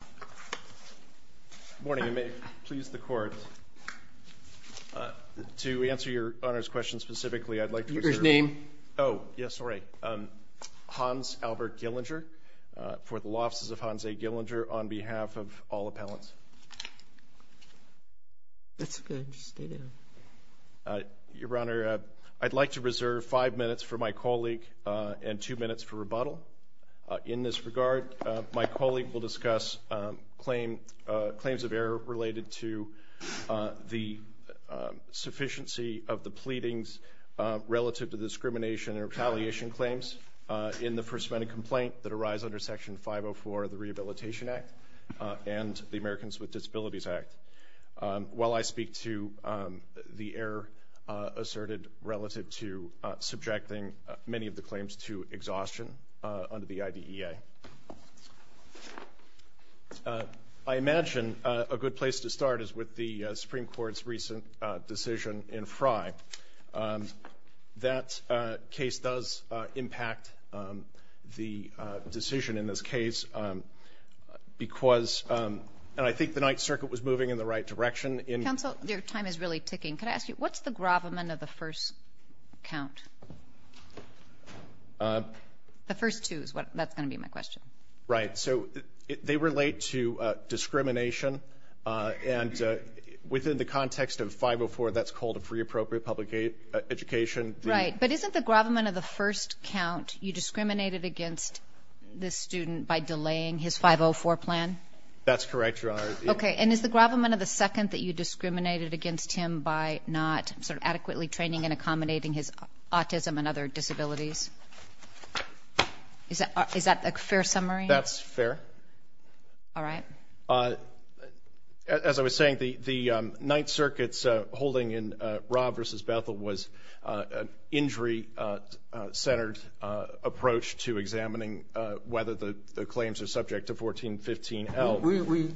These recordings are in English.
Good morning, and may it please the Court, to answer your Honor's question specifically, I'd like to reserve— Your name? Oh, yes, sorry. Hans Albert Gillinger, for the Law Offices of Hans A. Gillinger, on behalf of all appellants. That's good. Stay there. Your Honor, I'd like to reserve five minutes for my colleague and two minutes for rebuttal. In this regard, my colleague will discuss claims of error related to the sufficiency of the pleadings relative to discrimination and retaliation claims in the First Amendment complaint that arise under Section 504 of the Rehabilitation Act and the Americans with Disabilities Act. While I speak to the error asserted relative to subjecting many of the claims to exhaustion under the IDEA. I imagine a good place to start is with the Supreme Court's recent decision in Frye. That case does impact the decision in this case because—and I think the Ninth Circuit was moving in the right direction in— Counsel, your time is really ticking. Could I ask you, what's the gravamen of the first count? The first two is what—that's going to be my question. Right, so they relate to discrimination and within the context of 504, that's called a free appropriate public education. Right, but isn't the gravamen of the first count you discriminated against this student by delaying his 504 plan? That's correct, Your Honor. Okay, and is the gravamen of the second that you discriminated against him by not adequately training and accommodating his autism and other disabilities? Is that a fair summary? That's fair. All right. As I was saying, the Ninth Circuit's holding in Rob versus Bethel was an injury-centered approach to examining whether the claims are subject to 1415L. We—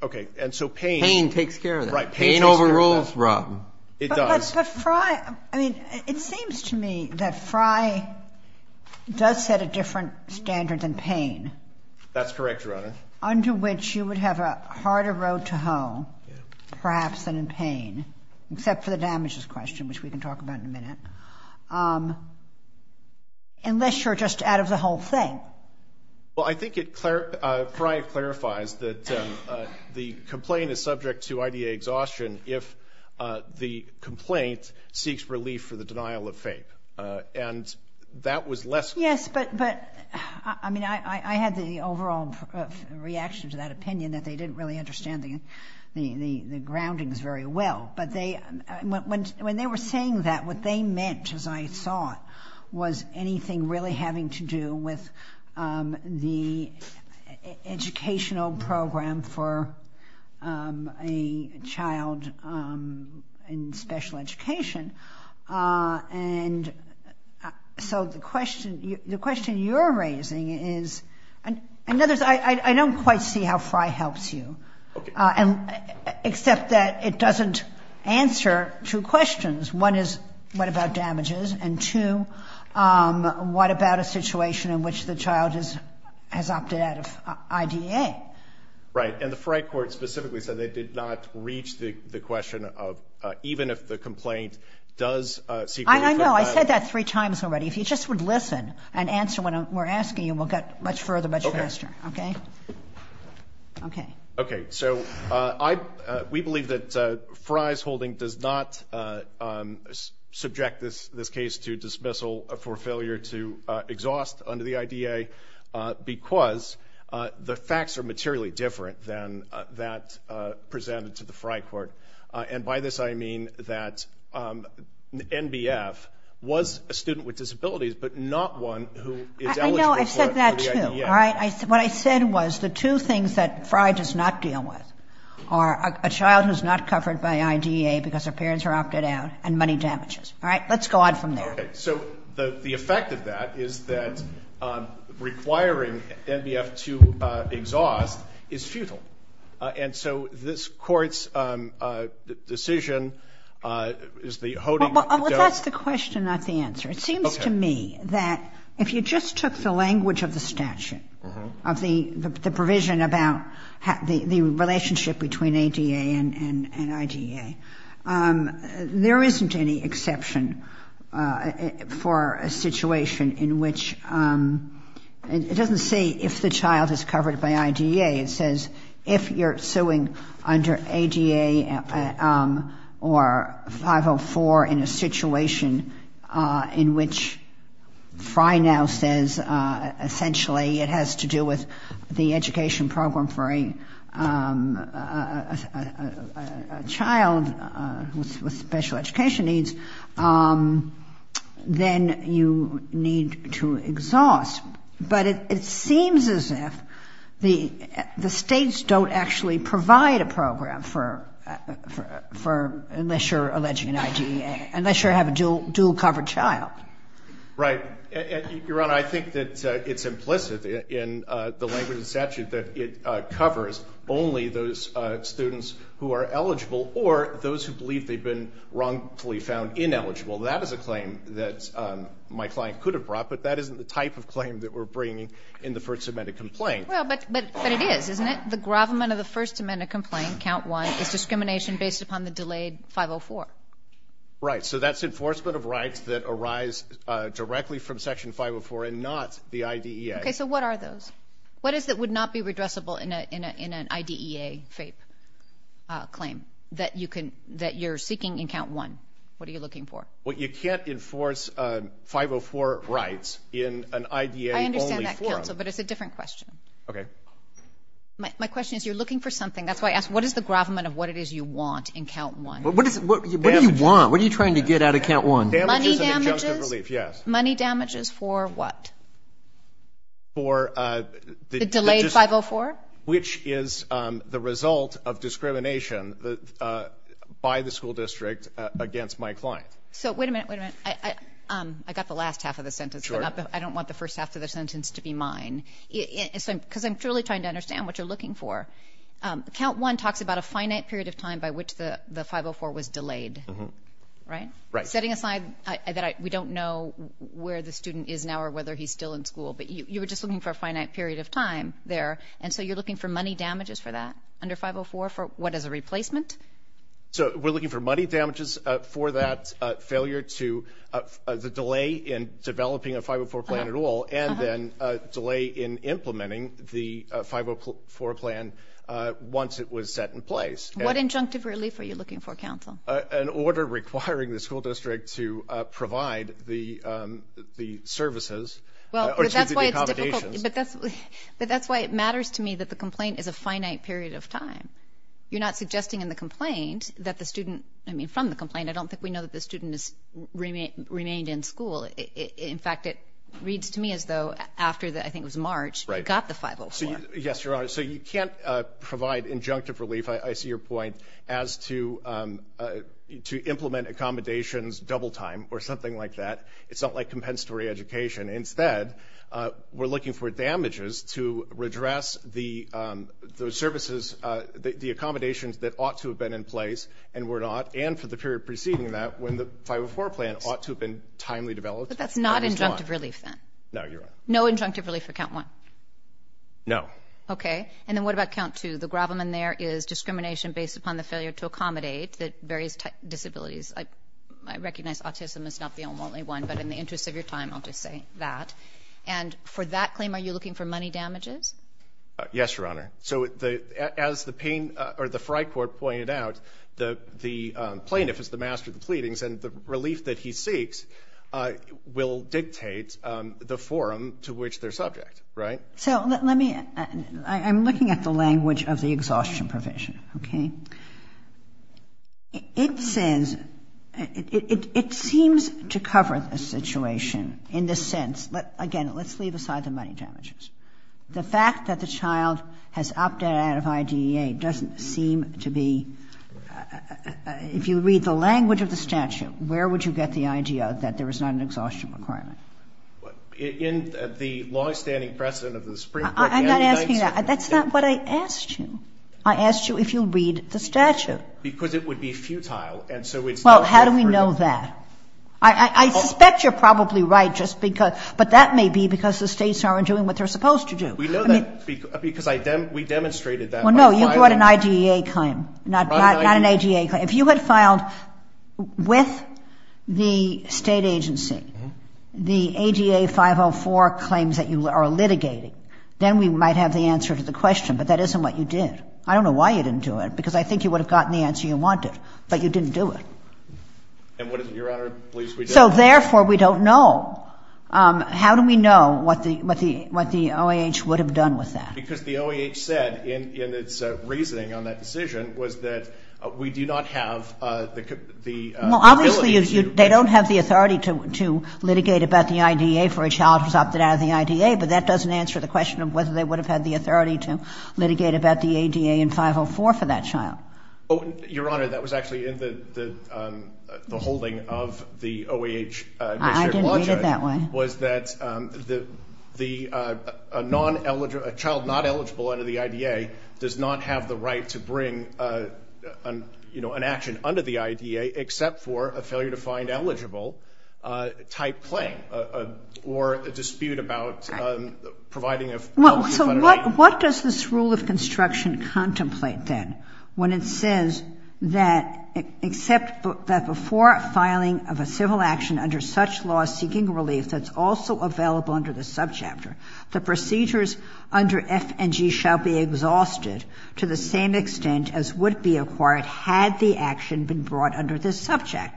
Okay, and so pain— Pain takes care of that. Right, pain takes care of that. Pain overrules Rob. It does. But Frye—I mean, it seems to me that Frye does set a different standard than pain. That's correct, Your Honor. Under which you would have a harder road to hoe perhaps than in pain, except for the damages question, which we can talk about in a minute. Unless you're just out of the whole thing. Well, I think it—Frye clarifies that the complaint is subject to IDA exhaustion if the complaint seeks relief for the denial of faith. And that was less— Yes, but—I mean, I had the overall reaction to that opinion that they didn't really understand the groundings very well. But they—when they were saying that, what they meant, as I saw it, was anything really having to do with the educational program for a child in special education. And so the question you're raising is—I don't quite see how Frye helps you. Okay. Except that it doesn't answer two questions. One is, what about damages? And two, what about a situation in which the child has opted out of IDA? Right. And the Frye court specifically said they did not reach the question of even if the complaint does seek relief for— I know. I said that three times already. If you just would listen and answer when we're asking you, we'll get much further, much faster. Okay. Okay. Okay. So we believe that Frye's holding does not subject this case to dismissal for failure to exhaust under the IDA because the facts are materially different than that presented to the Frye court. And by this I mean that NBF was a student with disabilities but not one who is eligible for the IDA. I know. I've said that, too. All right? What I said was the two things that Frye does not deal with are a child who is not covered by IDA because her parents are opted out and money damages. All right? Let's go on from there. Okay. So the effect of that is that requiring NBF to exhaust is futile. And so this Court's decision is the holding— Well, that's the question, not the answer. Okay. Well, it seems to me that if you just took the language of the statute, of the provision about the relationship between ADA and IDA, there isn't any exception for a situation in which—it doesn't say if the child is covered by IDA. It says if you're suing under ADA or 504 in a situation in which Frye now says essentially it has to do with the education program for a child with special education needs, then you need to exhaust. But it seems as if the States don't actually provide a program for—unless you're alleging an IDA, unless you have a dual-covered child. Right. Your Honor, I think that it's implicit in the language of the statute that it covers only those students who are eligible or those who believe they've been wrongfully found ineligible. That is a claim that my client could have brought, but that isn't the type of claim that we're bringing in the First Amendment complaint. Well, but it is, isn't it? The gravamen of the First Amendment complaint, Count 1, is discrimination based upon the delayed 504. Right. So that's enforcement of rights that arise directly from Section 504 and not the IDEA. Okay. So what are those? What is it that would not be redressable in an IDEA FAPE claim that you're seeking in Count 1? What are you looking for? Well, you can't enforce 504 rights in an IDEA-only forum. I understand that, Counsel, but it's a different question. Okay. My question is you're looking for something. That's why I asked, what is the gravamen of what it is you want in Count 1? What do you want? What are you trying to get out of Count 1? Money damages? Money damages, yes. Money damages for what? For the just— The delayed 504? Which is the result of discrimination by the school district against my client. So, wait a minute, wait a minute. I got the last half of the sentence. Sure. But I don't want the first half of the sentence to be mine. Because I'm truly trying to understand what you're looking for. Count 1 talks about a finite period of time by which the 504 was delayed, right? Right. Setting aside that we don't know where the student is now or whether he's still in school, but you were just looking for a finite period of time there, and so you're looking for money damages for that under 504 for what, as a replacement? So, we're looking for money damages for that failure to the delay in developing a 504 plan at all and then a delay in implementing the 504 plan once it was set in place. What injunctive relief are you looking for, Counsel? An order requiring the school district to provide the services. Well, but that's why it's difficult. But that's why it matters to me that the complaint is a finite period of time. You're not suggesting in the complaint that the student, I mean from the complaint, I don't think we know that the student has remained in school. In fact, it reads to me as though after, I think it was March, he got the 504. Yes, Your Honor. So, you can't provide injunctive relief. I see your point as to implement accommodations double time or something like that. It's not like compensatory education. Instead, we're looking for damages to redress the services, the accommodations that ought to have been in place and were not, and for the period preceding that when the 504 plan ought to have been timely developed. But that's not injunctive relief then? No, Your Honor. No injunctive relief for Count 1? No. Okay. And then what about Count 2? The grovelman there is discrimination based upon the failure to accommodate the various disabilities. I recognize autism is not the only one, but in the interest of your time, I'll just say that. And for that claim, are you looking for money damages? Yes, Your Honor. So, as the Frey Court pointed out, the plaintiff is the master of the pleadings, and the relief that he seeks will dictate the forum to which they're subject, right? So let me, I'm looking at the language of the exhaustion provision, okay? It says, it seems to cover the situation in the sense, again, let's leave aside the money damages. The fact that the child has opted out of IDEA doesn't seem to be, if you read the language of the statute, where would you get the idea that there is not an exhaustion requirement? In the longstanding precedent of the Supreme Court. I'm not asking that. That's not what I asked you. I asked you if you'll read the statute. Because it would be futile. Well, how do we know that? I suspect you're probably right, but that may be because the states aren't doing what they're supposed to do. We know that because we demonstrated that. Well, no, you brought an IDEA claim, not an IDEA claim. If you had filed with the state agency, the ADA 504 claims that you are litigating, then we might have the answer to the question. But that isn't what you did. I don't know why you didn't do it, because I think you would have gotten the answer you wanted, but you didn't do it. And what does Your Honor believe we did? So therefore, we don't know. How do we know what the OAH would have done with that? Because the OAH said in its reasoning on that decision was that we do not have the ability to. Well, obviously they don't have the authority to litigate about the IDEA for a child who's opted out of the IDEA, but that doesn't answer the question of whether they would have had the authority to litigate about the ADA in 504 for that child. Your Honor, that was actually in the holding of the OAH. I didn't read it that way. It was that a child not eligible under the IDEA does not have the right to bring, you know, an action under the IDEA except for a failure to find eligible type claim or a dispute about providing a health care fund. So what does this rule of construction contemplate then when it says that except that before filing of a civil action under such law seeking relief that's also available under the subchapter, the procedures under F and G shall be exhausted to the same extent as would be acquired had the action been brought under this subject.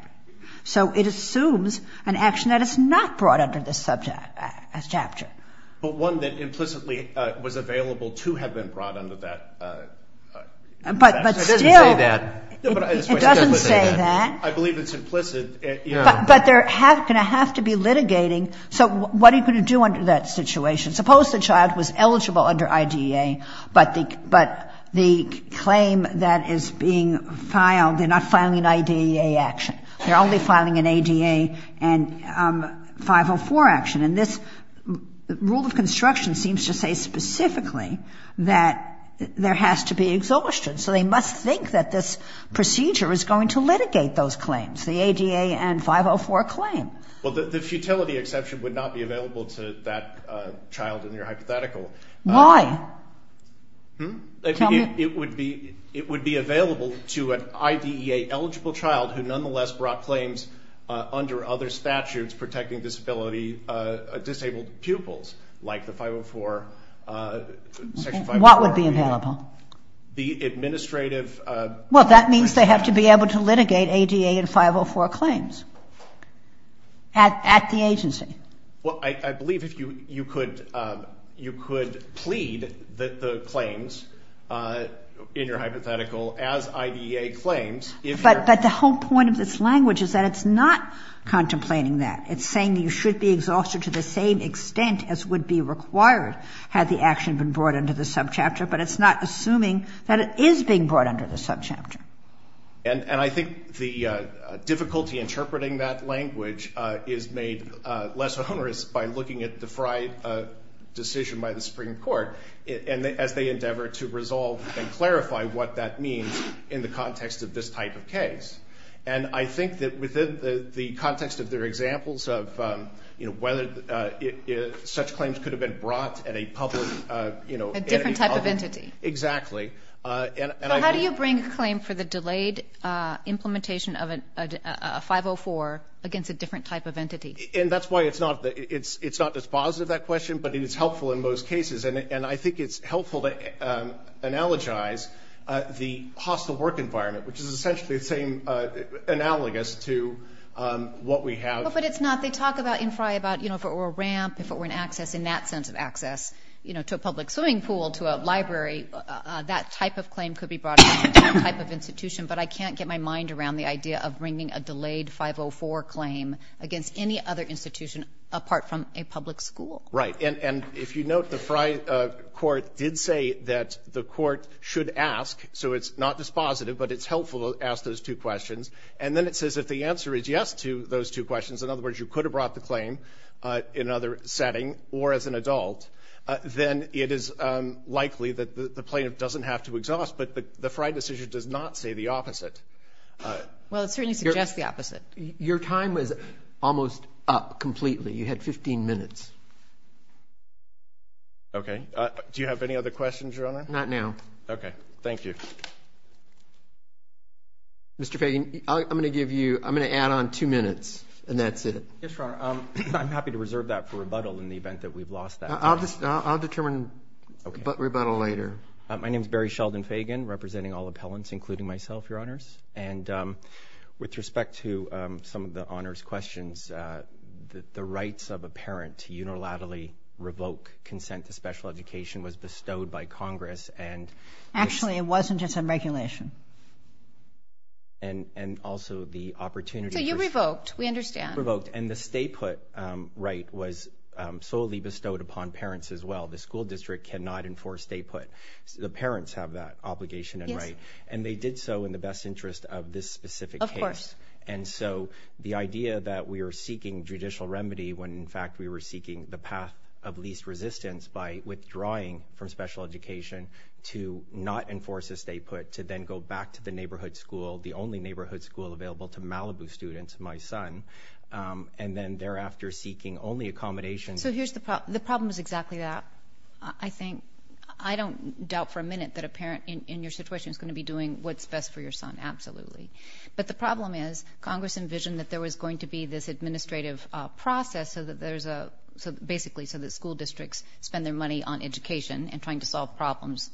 So it assumes an action that is not brought under this subject, chapter. But one that implicitly was available to have been brought under that. But still... It doesn't say that. It doesn't say that. I believe it's implicit. But they're going to have to be litigating. So what are you going to do under that situation? Suppose the child was eligible under IDEA, but the claim that is being filed, they're not filing an IDEA action. They're only filing an ADA and 504 action. And this rule of construction seems to say specifically that there has to be exhaustion. So they must think that this procedure is going to litigate those claims, the ADA and 504 claim. Well, the futility exception would not be available to that child in your hypothetical. Why? It would be available to an IDEA-eligible child who nonetheless brought claims under other statutes protecting disability disabled pupils, like the 504, Section 504. What would be available? The administrative... Well, that means they have to be able to litigate ADA and 504 claims at the agency. Well, I believe you could plead the claims in your hypothetical as IDEA claims if you're... But the whole point of this language is that it's not contemplating that. It's saying that you should be exhausted to the same extent as would be required had the action been brought under the subchapter, but it's not assuming that it is being brought under the subchapter. And I think the difficulty interpreting that language is made less onerous by looking at the decision by the Supreme Court as they endeavor to resolve and clarify what that means in the context of this type of case. And I think that within the context of their examples of whether such claims could have been brought at a public... A different type of entity. Exactly. So how do you bring a claim for the delayed implementation of a 504 against a different type of entity? And that's why it's not as positive, that question, but it is helpful in most cases. And I think it's helpful to analogize the hostile work environment, which is essentially the same analogous to what we have... But it's not. They talk about infra, about if it were a ramp, if it were an access, in that sense of access, to a public swimming pool, to a library, that type of claim could be brought against a different type of institution. But I can't get my mind around the idea of bringing a delayed 504 claim against any other institution apart from a public school. Right. And if you note, the FRI court did say that the court should ask, so it's not as positive, but it's helpful to ask those two questions. And then it says if the answer is yes to those two questions, in other words, you could have brought the claim in another setting or as an adult, then it is likely that the plaintiff doesn't have to exhaust, but the FRI decision does not say the opposite. Well, it certainly suggests the opposite. Your time was almost up completely. You had 15 minutes. Okay. Do you have any other questions, Your Honor? Not now. Okay. Thank you. Mr. Fagan, I'm going to add on two minutes, and that's it. Yes, Your Honor. I'm happy to reserve that for rebuttal in the event that we've lost that time. I'll determine rebuttal later. My name is Barry Sheldon Fagan, representing all appellants, including myself, Your Honors. And with respect to some of the honors questions, the rights of a parent to unilaterally revoke consent to special education was bestowed by Congress. Actually, it wasn't. It's a regulation. And also the opportunity for ---- So you revoked. We understand. We revoked. And the stay-put right was solely bestowed upon parents as well. The school district cannot enforce stay-put. The parents have that obligation and right. Yes. And they did so in the best interest of this specific case. Of course. And so the idea that we are seeking judicial remedy when, in fact, we were seeking the path of least resistance by withdrawing from special education to not enforce a stay-put to then go back to the neighborhood school, the only neighborhood school available to Malibu students, my son, and then thereafter seeking only accommodations. So here's the problem. The problem is exactly that, I think. I don't doubt for a minute that a parent in your situation is going to be doing what's best for your son, absolutely. But the problem is Congress envisioned that there was going to be this administrative process basically so that school districts spend their money on education and trying to solve problems.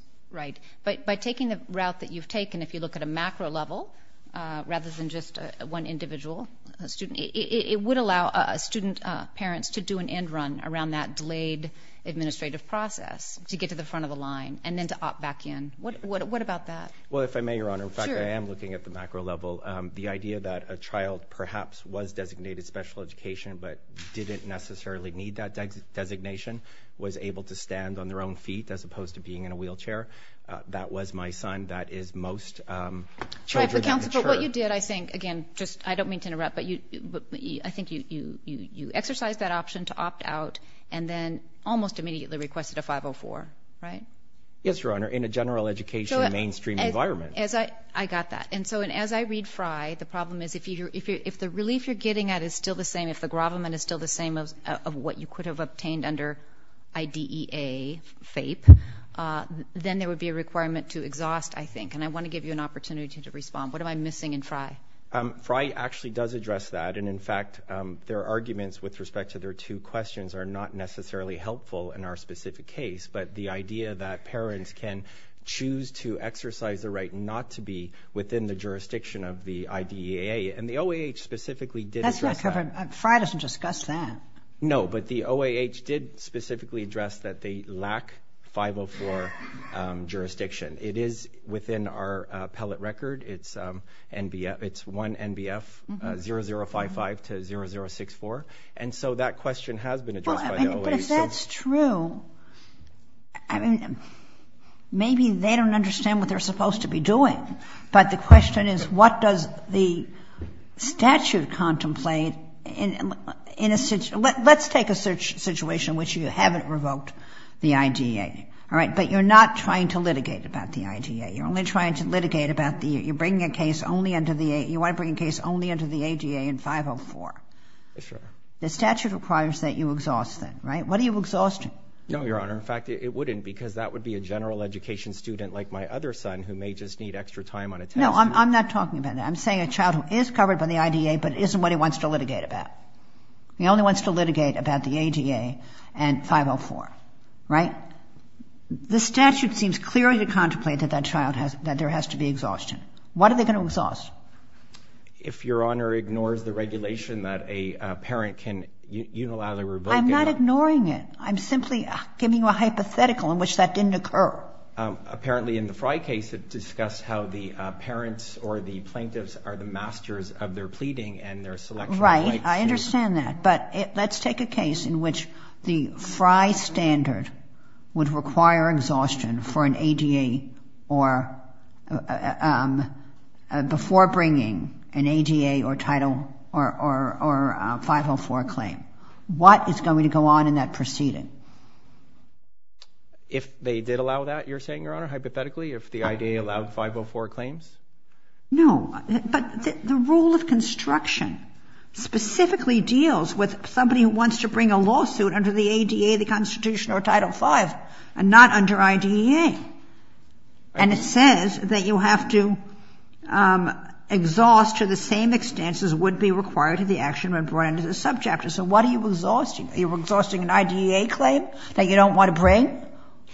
But by taking the route that you've taken, if you look at a macro level rather than just one individual student, it would allow student parents to do an end run around that delayed administrative process to get to the front of the line and then to opt back in. What about that? Well, if I may, Your Honor, in fact, I am looking at the macro level. The idea that a child perhaps was designated special education but didn't necessarily need that designation, was able to stand on their own feet as opposed to being in a wheelchair, that was my son. That is most children. But, Counselor, what you did, I think, again, I don't mean to interrupt, but I think you exercised that option to opt out and then almost immediately requested a 504, right? Yes, Your Honor, in a general education mainstream environment. I got that. And so as I read Frye, the problem is if the relief you're getting at is still the same, if the gravamen is still the same of what you could have obtained under IDEA, FAPE, then there would be a requirement to exhaust, I think. And I want to give you an opportunity to respond. What am I missing in Frye? Frye actually does address that. And, in fact, their arguments with respect to their two questions are not necessarily helpful in our specific case, but the idea that parents can choose to exercise the right not to be within the jurisdiction of the IDEA. And the OAH specifically did address that. Frye doesn't discuss that. No, but the OAH did specifically address that they lack 504 jurisdiction. It is within our appellate record. It's 1 NBF 0055 to 0064. And so that question has been addressed by the OAH. But if that's true, I mean, maybe they don't understand what they're supposed to be doing. But the question is what does the statute contemplate in a situation? Let's take a situation in which you haven't revoked the IDEA. All right? But you're not trying to litigate about the IDEA. You're only trying to litigate about the – you're bringing a case only into the – you want to bring a case only into the IDEA in 504. Sure. The statute requires that you exhaust that, right? What are you exhausting? No, Your Honor. In fact, it wouldn't, because that would be a general education student like my other son who may just need extra time on a test. No, I'm not talking about that. I'm saying a child who is covered by the IDEA, but isn't what he wants to litigate about. He only wants to litigate about the ADA and 504. Right? The statute seems clear to contemplate that that child has – that there has to be exhaustion. What are they going to exhaust? If Your Honor ignores the regulation that a parent can unilaterally revoke – I'm not ignoring it. I'm simply giving you a hypothetical in which that didn't occur. Apparently, in the Frye case, it discussed how the parents or the plaintiffs are the masters of their pleading and their selection of rights. Right. I understand that. But let's take a case in which the Frye standard would require exhaustion for an ADA or before bringing an ADA or title or 504 claim. What is going to go on in that proceeding? If they did allow that, you're saying, Your Honor, hypothetically, if the IDEA allowed 504 claims? No. But the rule of construction specifically deals with somebody who wants to bring a lawsuit under the ADA, the Constitution, or Title V, and not under IDEA. And it says that you have to exhaust to the same extents as would be required to the action when brought into the subchapter. So what are you exhausting? Are you exhausting an IDEA claim that you don't want to bring?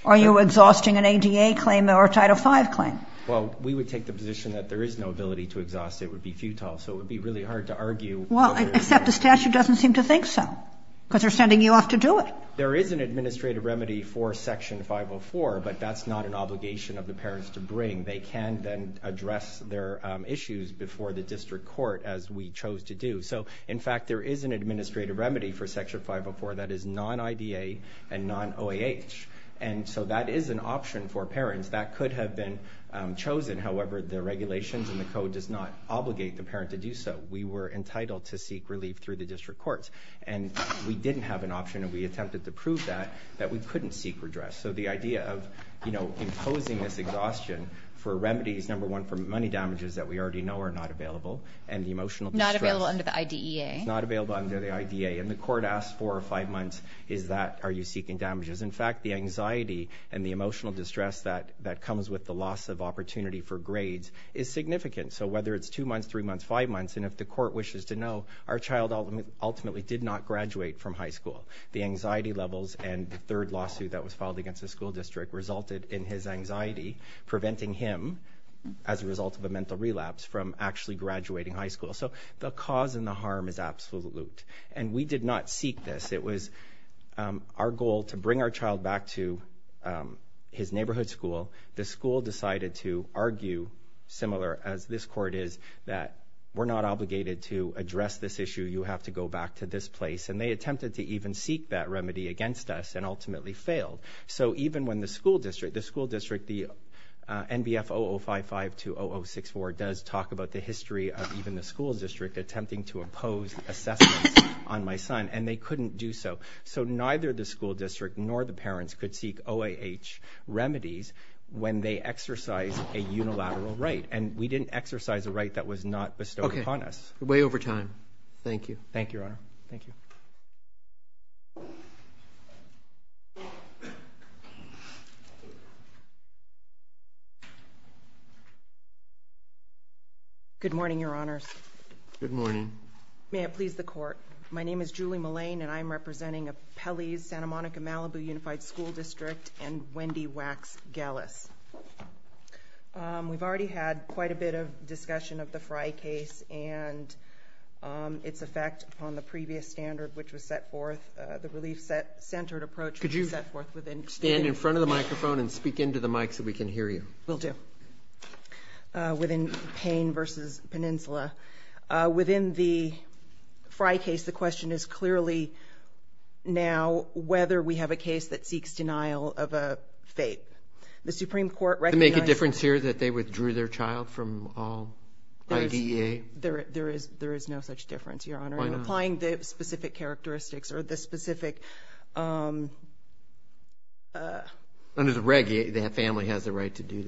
Or are you exhausting an ADA claim or a Title V claim? Well, we would take the position that there is no ability to exhaust. It would be futile. So it would be really hard to argue. Well, except the statute doesn't seem to think so because they're sending you off to do it. There is an administrative remedy for Section 504, but that's not an obligation of the parents to bring. They can then address their issues before the district court, as we chose to do. So, in fact, there is an administrative remedy for Section 504 that is non-IDEA and non-OAH. And so that is an option for parents. That could have been chosen. However, the regulations and the code does not obligate the parent to do so. We were entitled to seek relief through the district courts. And we didn't have an option, and we attempted to prove that, that we couldn't seek redress. So the idea of imposing this exhaustion for remedies, number one, for money damages that we already know are not available, and the emotional distress. Not available under the IDEA. Not available under the IDEA. And the court asks four or five months, are you seeking damages? In fact, the anxiety and the emotional distress that comes with the loss of opportunity for grades is significant. So whether it's two months, three months, five months, and if the court wishes to know, our child ultimately did not graduate from high school. The anxiety levels and the third lawsuit that was filed against the school district resulted in his anxiety preventing him, as a result of a mental relapse, from actually graduating high school. So the cause and the harm is absolute. And we did not seek this. It was our goal to bring our child back to his neighborhood school. The school decided to argue, similar as this court is, that we're not obligated to address this issue. You have to go back to this place. And they attempted to even seek that remedy against us and ultimately failed. So even when the school district, the school district, the NBF 0055 to 0064 does talk about the history of even the school district attempting to impose assessments on my son. And they couldn't do so. So neither the school district nor the parents could seek OAH remedies when they exercise a unilateral right. And we didn't exercise a right that was not bestowed upon us. Way over time. Thank you. Thank you, Your Honor. Thank you. Good morning, Your Honors. Good morning. May it please the Court. My name is Julie Mullane, and I'm representing Appellee's Santa Monica-Malibu Unified School District and Wendy Wax Gallus. We've already had quite a bit of discussion of the Frye case and its effect on the previous standard which was set forth, the relief-centered approach which was set forth within your state. Could you stand in front of the microphone and speak into the mic so we can hear you? Will do. Within Payne v. Peninsula. Within the Frye case, the question is clearly now whether we have a case that seeks denial of a fate. Does it make a difference here that they withdrew their child from IDEA? There is no such difference, Your Honor. Why not? I'm applying the specific characteristics or the specific... Under the reg, the family has the right to do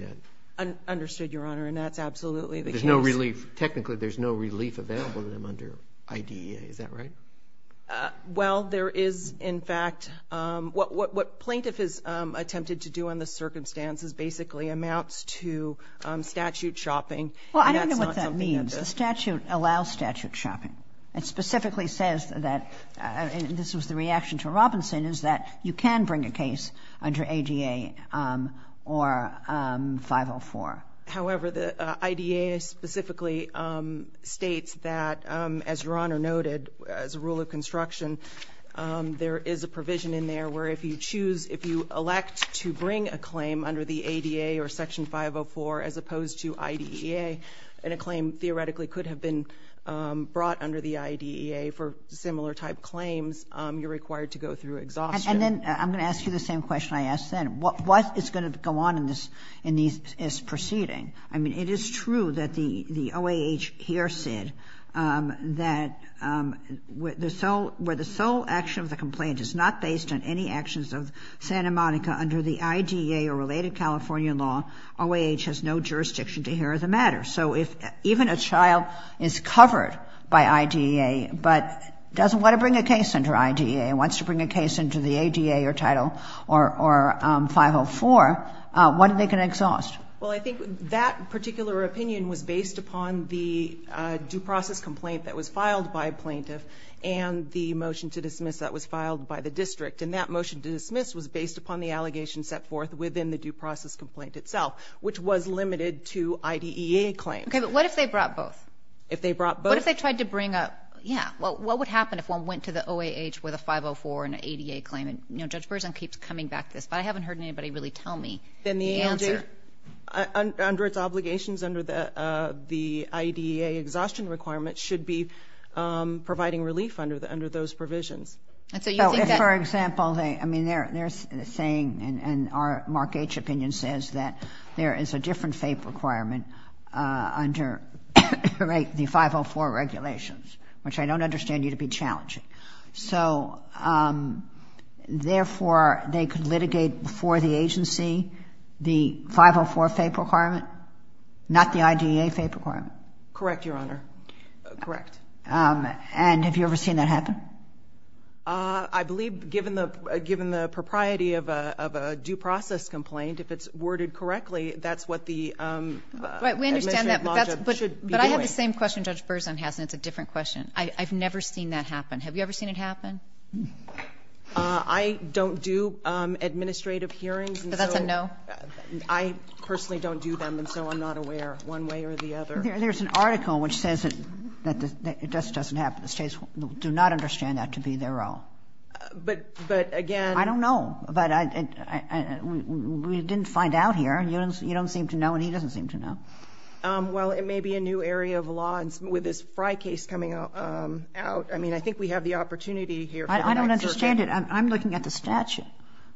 that. Understood, Your Honor. And that's absolutely the case. There's no relief. Technically, there's no relief available to them under IDEA. Is that right? Well, there is, in fact. What plaintiff has attempted to do under the circumstances basically amounts to statute chopping. Well, I don't know what that means. The statute allows statute chopping. It specifically says that, and this was the reaction to Robinson, is that you can bring a case under ADA or 504. However, the IDEA specifically states that, as Your Honor noted, as a rule of construction, there is a provision in there where if you choose, if you elect to bring a claim under the ADA or Section 504 as opposed to IDEA, and a claim theoretically could have been brought under the IDEA for similar type claims, you're required to go through exhaustion. And then I'm going to ask you the same question I asked then. What is going to go on in this proceeding? I mean, it is true that the OAH here said that where the sole action of the complaint is not based on any actions of Santa Monica under the IDEA or related California law, OAH has no jurisdiction to hear the matter. So if even a child is covered by IDEA but doesn't want to bring a case under IDEA and wants to bring a case under the ADA or Title 504, what are they going to exhaust? Well, I think that particular opinion was based upon the due process complaint that was filed by a plaintiff and the motion to dismiss that was filed by the district. And that motion to dismiss was based upon the allegations set forth within the due process complaint itself, which was limited to IDEA claims. Okay, but what if they brought both? If they brought both? What if they tried to bring a, yeah, what would happen if one went to the OAH with a 504 and an ADA claim? You know, Judge Berzon keeps coming back to this, but I haven't heard anybody really tell me the answer. Then the answer under its obligations under the IDEA exhaustion requirement should be providing relief under those provisions. For example, I mean, they're saying, and our Mark H. opinion says, that there is a different FAPE requirement under the 504 regulations, which I don't understand need to be challenging. So, therefore, they could litigate for the agency the 504 FAPE requirement, not the IDEA FAPE requirement? Correct, Your Honor, correct. And have you ever seen that happen? I believe, given the propriety of a due process complaint, if it's worded correctly, that's what the administrative logic should be doing. But I have the same question Judge Berzon has, and it's a different question. I've never seen that happen. Have you ever seen it happen? I don't do administrative hearings. So that's a no? I personally don't do them, and so I'm not aware one way or the other. There's an article which says that it just doesn't happen. The states do not understand that to be their own. But, again – I don't know. We didn't find out here. You don't seem to know, and he doesn't seem to know. Well, it may be a new area of law with this Frye case coming out. I mean, I think we have the opportunity here. I don't understand it. I'm looking at the statute,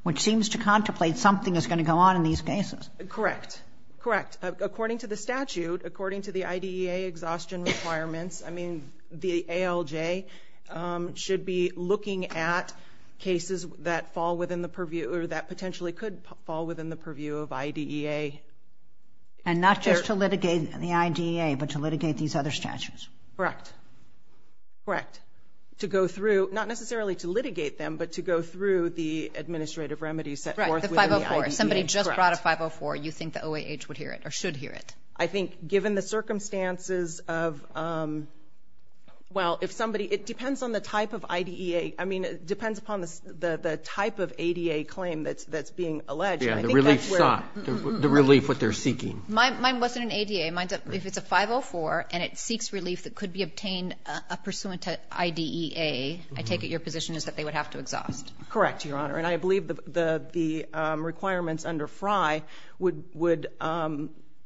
which seems to contemplate something is going to go on in these cases. Correct, correct. According to the statute, according to the IDEA exhaustion requirements, I mean, the ALJ should be looking at cases that fall within the purview or that potentially could fall within the purview of IDEA. And not just to litigate the IDEA, but to litigate these other statutes. Correct, correct. To go through, not necessarily to litigate them, but to go through the administrative remedies set forth within the IDEA. Right, the 504. If somebody just brought a 504, you think the OAH would hear it or should hear it. I think given the circumstances of, well, if somebody, it depends on the type of IDEA. I mean, it depends upon the type of ADA claim that's being alleged. Yeah, the relief sought, the relief what they're seeking. Mine wasn't an ADA. If it's a 504 and it seeks relief that could be obtained pursuant to IDEA, I take it your position is that they would have to exhaust. Correct, Your Honor. And I believe the requirements under FRI would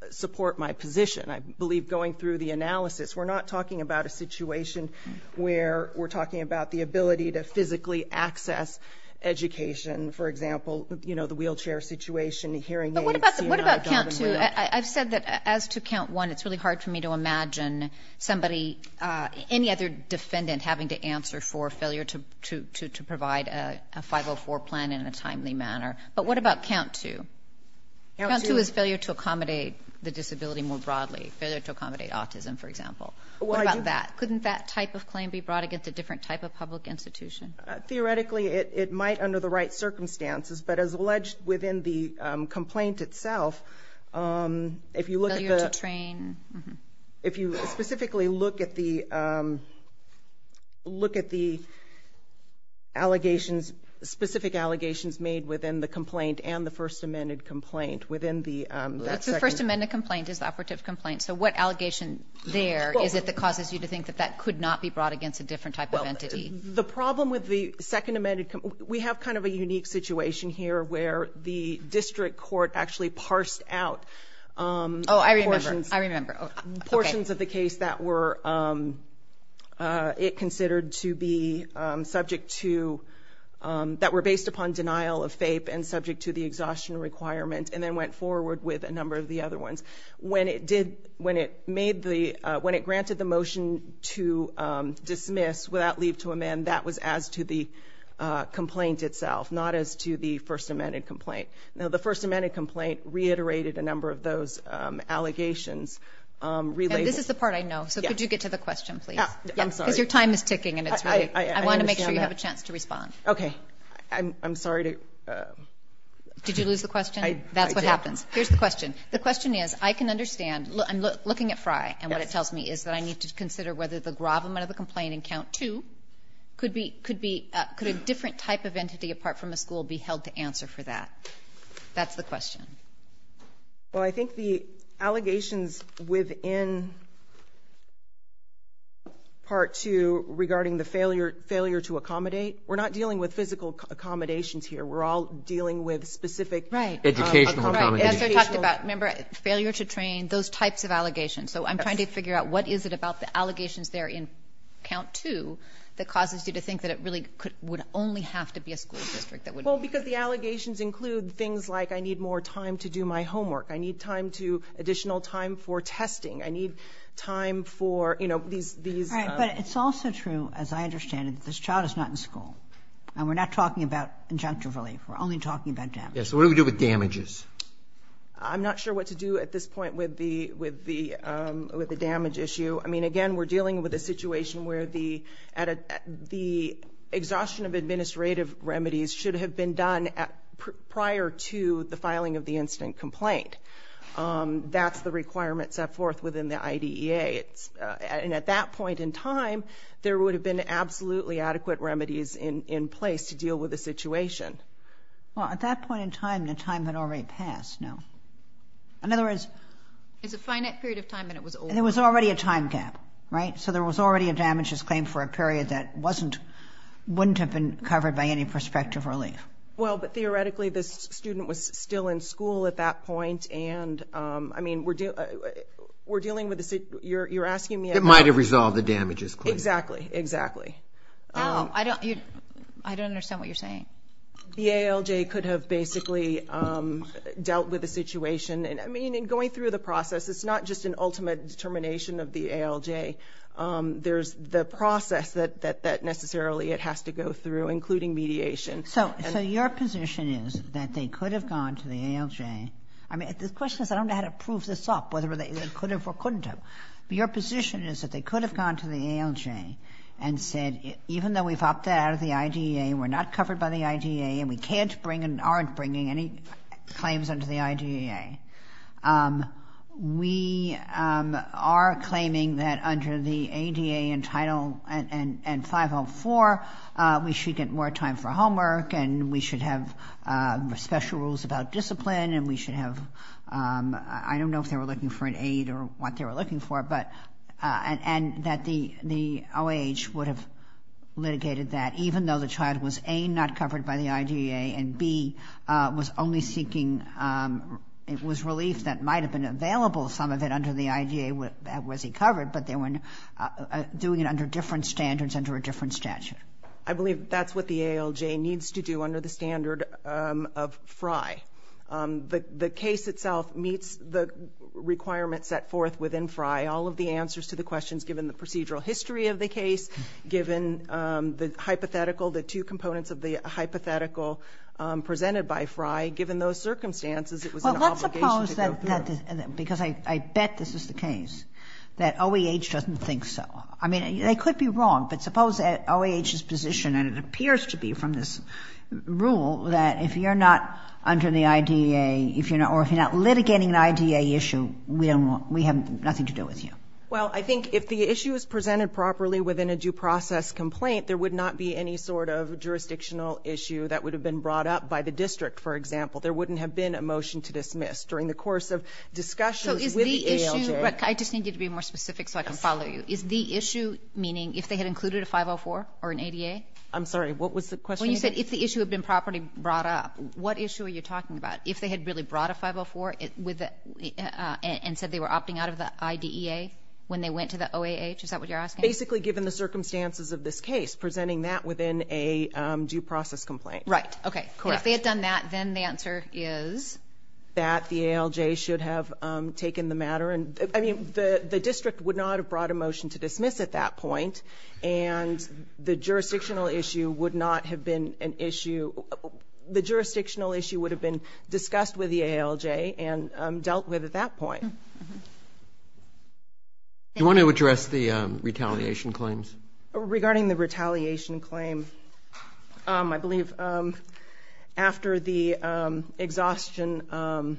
support my position. I believe going through the analysis, we're not talking about a situation where we're talking about the ability to physically access education. For example, you know, the wheelchair situation, the hearing aids. But what about count two? I've said that as to count one, it's really hard for me to imagine somebody, any other defendant having to answer for failure to provide a 504 plan in a timely manner. But what about count two? Count two is failure to accommodate the disability more broadly. Failure to accommodate autism, for example. What about that? Couldn't that type of claim be brought against a different type of public institution? Theoretically, it might under the right circumstances. But as alleged within the complaint itself, if you look at the- Failure to train. If you specifically look at the allegations, specific allegations made within the complaint and the First Amendment complaint within the- The First Amendment complaint is the operative complaint. So what allegation there is it that causes you to think that that could not be brought against a different type of entity? The problem with the Second Amendment complaint, we have kind of a unique situation here where the district court actually parsed out- Oh, I remember. I remember. Okay. Portions of the case that were considered to be subject to- that were based upon denial of FAPE and subject to the exhaustion requirement and then went forward with a number of the other ones. When it granted the motion to dismiss without leave to amend, that was as to the complaint itself, not as to the First Amendment complaint. Now, the First Amendment complaint reiterated a number of those allegations. This is the part I know, so could you get to the question, please? I'm sorry. Because your time is ticking and it's really- I understand that. I want to make sure you have a chance to respond. Okay. I'm sorry to- Did you lose the question? I did. That's what happens. Here's the question. The question is, I can understand. I'm looking at Fry and what it tells me is that I need to consider whether the gravamen of the complaint in Count 2 could a different type of entity apart from a school be held to answer for that. That's the question. Well, I think the allegations within Part 2 regarding the failure to accommodate, we're not dealing with physical accommodations here. We're all dealing with specific- Right. Educational accommodations. So I'm trying to figure out what is it about the allegations there in Count 2 that causes you to think that it really would only have to be a school district that would- Well, because the allegations include things like I need more time to do my homework. I need time to- additional time for testing. I need time for, you know, these- Right. But it's also true, as I understand it, that this child is not in school. And we're not talking about injunctive relief. We're only talking about damage. Yeah. So what do we do with damages? I'm not sure what to do at this point with the damage issue. I mean, again, we're dealing with a situation where the exhaustion of administrative remedies should have been done prior to the filing of the incident complaint. That's the requirement set forth within the IDEA. And at that point in time, there would have been absolutely adequate remedies in place to deal with the situation. Well, at that point in time, the time had already passed now. In other words- It's a finite period of time, and it was over. And there was already a time gap, right? So there was already a damages claim for a period that wasn't- wouldn't have been covered by any prospective relief. Well, but theoretically, this student was still in school at that point. And, I mean, we're dealing with a- you're asking me about- It might have resolved the damages claim. Exactly, exactly. No, I don't- I don't understand what you're saying. The ALJ could have basically dealt with the situation. I mean, in going through the process, it's not just an ultimate determination of the ALJ. There's the process that necessarily it has to go through, including mediation. So your position is that they could have gone to the ALJ- I mean, the question is I don't know how to prove this off, whether they could have or couldn't have. Your position is that they could have gone to the ALJ and said, even though we've opted out of the IDEA, we're not covered by the IDEA, and we can't bring and aren't bringing any claims under the IDEA, we are claiming that under the ADA and Title- and 504, we should get more time for homework, and we should have special rules about discipline, and we should have- I don't know if they were looking for an aid or what they were looking for, but- and that the OAH would have litigated that, even though the child was, A, not covered by the IDEA, and, B, was only seeking- it was relief that might have been available, some of it under the IDEA was covered, but they were doing it under different standards under a different statute. I believe that's what the ALJ needs to do under the standard of FRI. The case itself meets the requirements set forth within FRI. All of the answers to the questions, given the procedural history of the case, given the hypothetical, the two components of the hypothetical presented by FRI, given those circumstances, it was an obligation to go through. Well, let's suppose that- because I bet this is the case, that OAH doesn't think so. I mean, they could be wrong, but suppose that OAH's position, and it appears to be from this rule, that if you're not under the IDEA, or if you're not litigating an IDEA issue, we have nothing to do with you. Well, I think if the issue is presented properly within a due process complaint, there would not be any sort of jurisdictional issue that would have been brought up by the district, for example. There wouldn't have been a motion to dismiss during the course of discussions with the ALJ. I just need you to be more specific so I can follow you. Is the issue meaning if they had included a 504 or an ADA? I'm sorry, what was the question again? When you said if the issue had been properly brought up, what issue are you talking about? If they had really brought a 504 and said they were opting out of the IDEA when they went to the OAH, is that what you're asking? Basically, given the circumstances of this case, presenting that within a due process complaint. Right, okay. Correct. If they had done that, then the answer is? That the ALJ should have taken the matter, I mean the district would not have brought a motion to dismiss at that point and the jurisdictional issue would not have been an issue, the jurisdictional issue would have been discussed with the ALJ and dealt with at that point. Do you want to address the retaliation claims? Regarding the retaliation claim, I believe after the exhaustion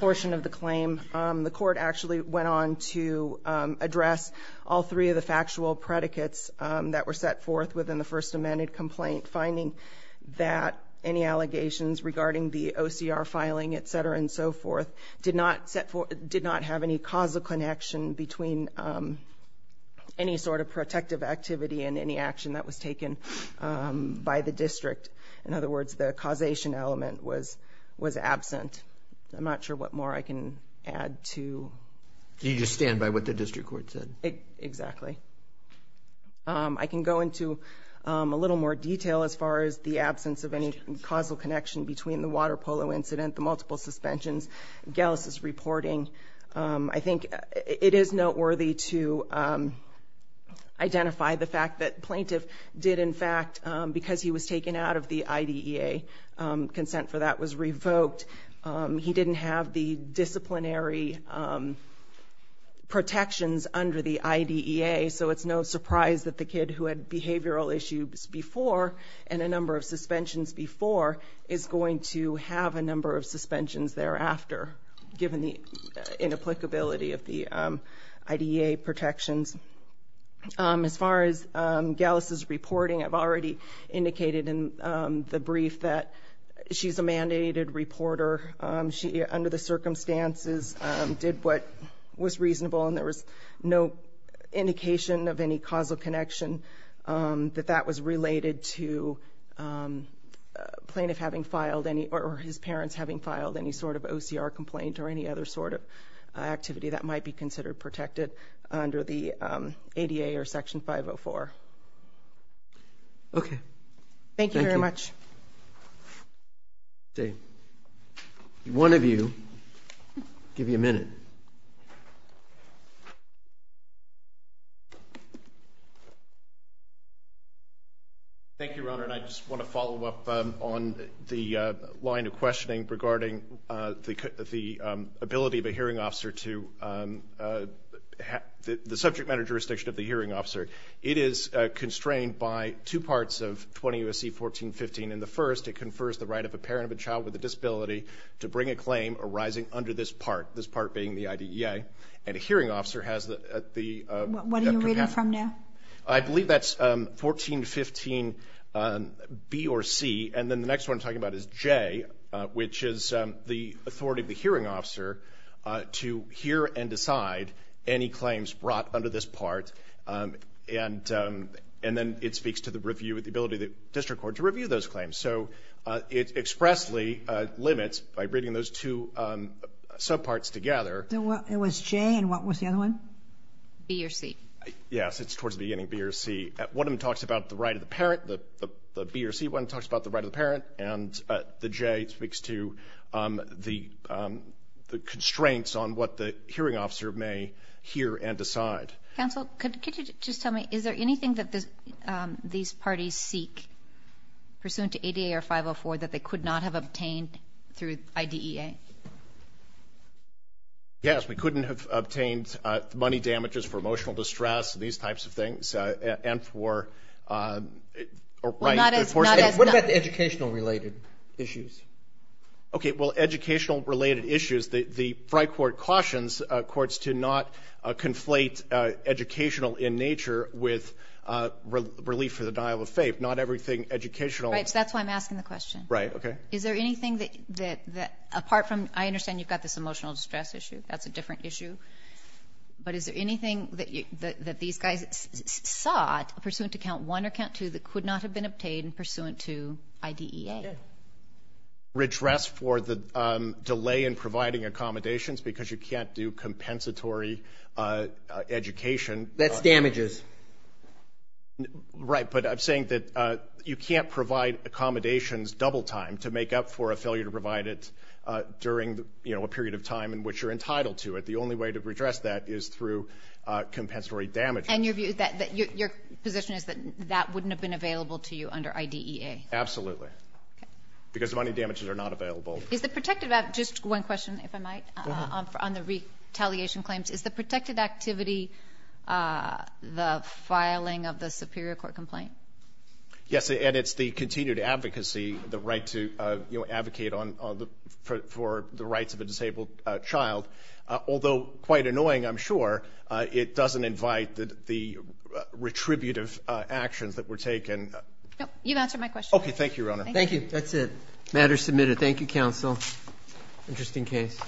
portion of the claim, the court actually went on to address all three of the factual predicates that were set forth within the First Amendment complaint, finding that any allegations regarding the OCR filing, etc. and so forth, did not have any causal connection between any sort of protective activity and any action that was taken by the district. In other words, the causation element was absent. I'm not sure what more I can add to... Can you just stand by what the district court said? Exactly. I can go into a little more detail as far as the absence of any causal connection between the water polo incident, the multiple suspensions, Galas' reporting. I think it is noteworthy to identify the fact that Plaintiff did, in fact, because he was taken out of the IDEA, consent for that was revoked. He didn't have the disciplinary protections under the IDEA, so it's no surprise that the kid who had behavioral issues before and a number of suspensions before is going to have a number of suspensions thereafter, given the inapplicability of the IDEA protections. As far as Galas' reporting, I've already indicated in the brief that she's a mandated reporter. She, under the circumstances, did what was reasonable, and there was no indication of any causal connection that that was related to Plaintiff having filed any... or his parents having filed any sort of OCR complaint or any other sort of activity that might be considered protected under the ADA or Section 504. Okay, thank you. Thank you very much. Okay, one of you. I'll give you a minute. Thank you, Your Honor, and I just want to follow up on the line of questioning regarding the ability of a hearing officer to have the subject matter jurisdiction of the hearing officer. It is constrained by two parts of 20 U.S.C. 1415. In the first, it confers the right of a parent of a child with a disability to bring a claim arising under this part, this part being the IDEA, and a hearing officer has the... What are you reading from now? I believe that's 1415 B or C, and then the next one I'm talking about is J, which is the authority of the hearing officer to hear and decide any claims brought under this part, and then it speaks to the ability of the district court to review those claims. So it expressly limits, by reading those two subparts together... It was J, and what was the other one? B or C. Yes, it's towards the beginning, B or C. One of them talks about the right of the parent, the B or C one talks about the right of the parent, and the J speaks to the constraints on what the hearing officer may hear and decide. Counsel, could you just tell me, is there anything that these parties seek pursuant to ADA or 504 that they could not have obtained through IDEA? Yes, we couldn't have obtained money damages for emotional distress, these types of things, and for... What about the educational-related issues? Okay, well, educational-related issues, the Fry Court cautions courts to not conflate educational in nature with relief for the dial of faith, not everything educational. Right, so that's why I'm asking the question. Right, okay. Is there anything that, apart from I understand you've got this emotional distress issue, that's a different issue, but is there anything that these guys sought pursuant to Count 1 or Count 2 that could not have been obtained pursuant to IDEA? Redress for the delay in providing accommodations because you can't do compensatory education. That's damages. Right, but I'm saying that you can't provide accommodations double time to make up for a failure to provide it during, you know, a period of time in which you're entitled to it. The only way to redress that is through compensatory damages. And your position is that that wouldn't have been available to you under IDEA? Absolutely, because the money damages are not available. Just one question, if I might, on the retaliation claims. Is the protected activity the filing of the Superior Court complaint? Yes, and it's the continued advocacy, the right to advocate for the rights of a disabled child. Although quite annoying, I'm sure, it doesn't invite the retributive actions that were taken. You've answered my question. Okay, thank you, Your Honor. Thank you. That's it. Matter submitted. Thank you, counsel. Interesting case.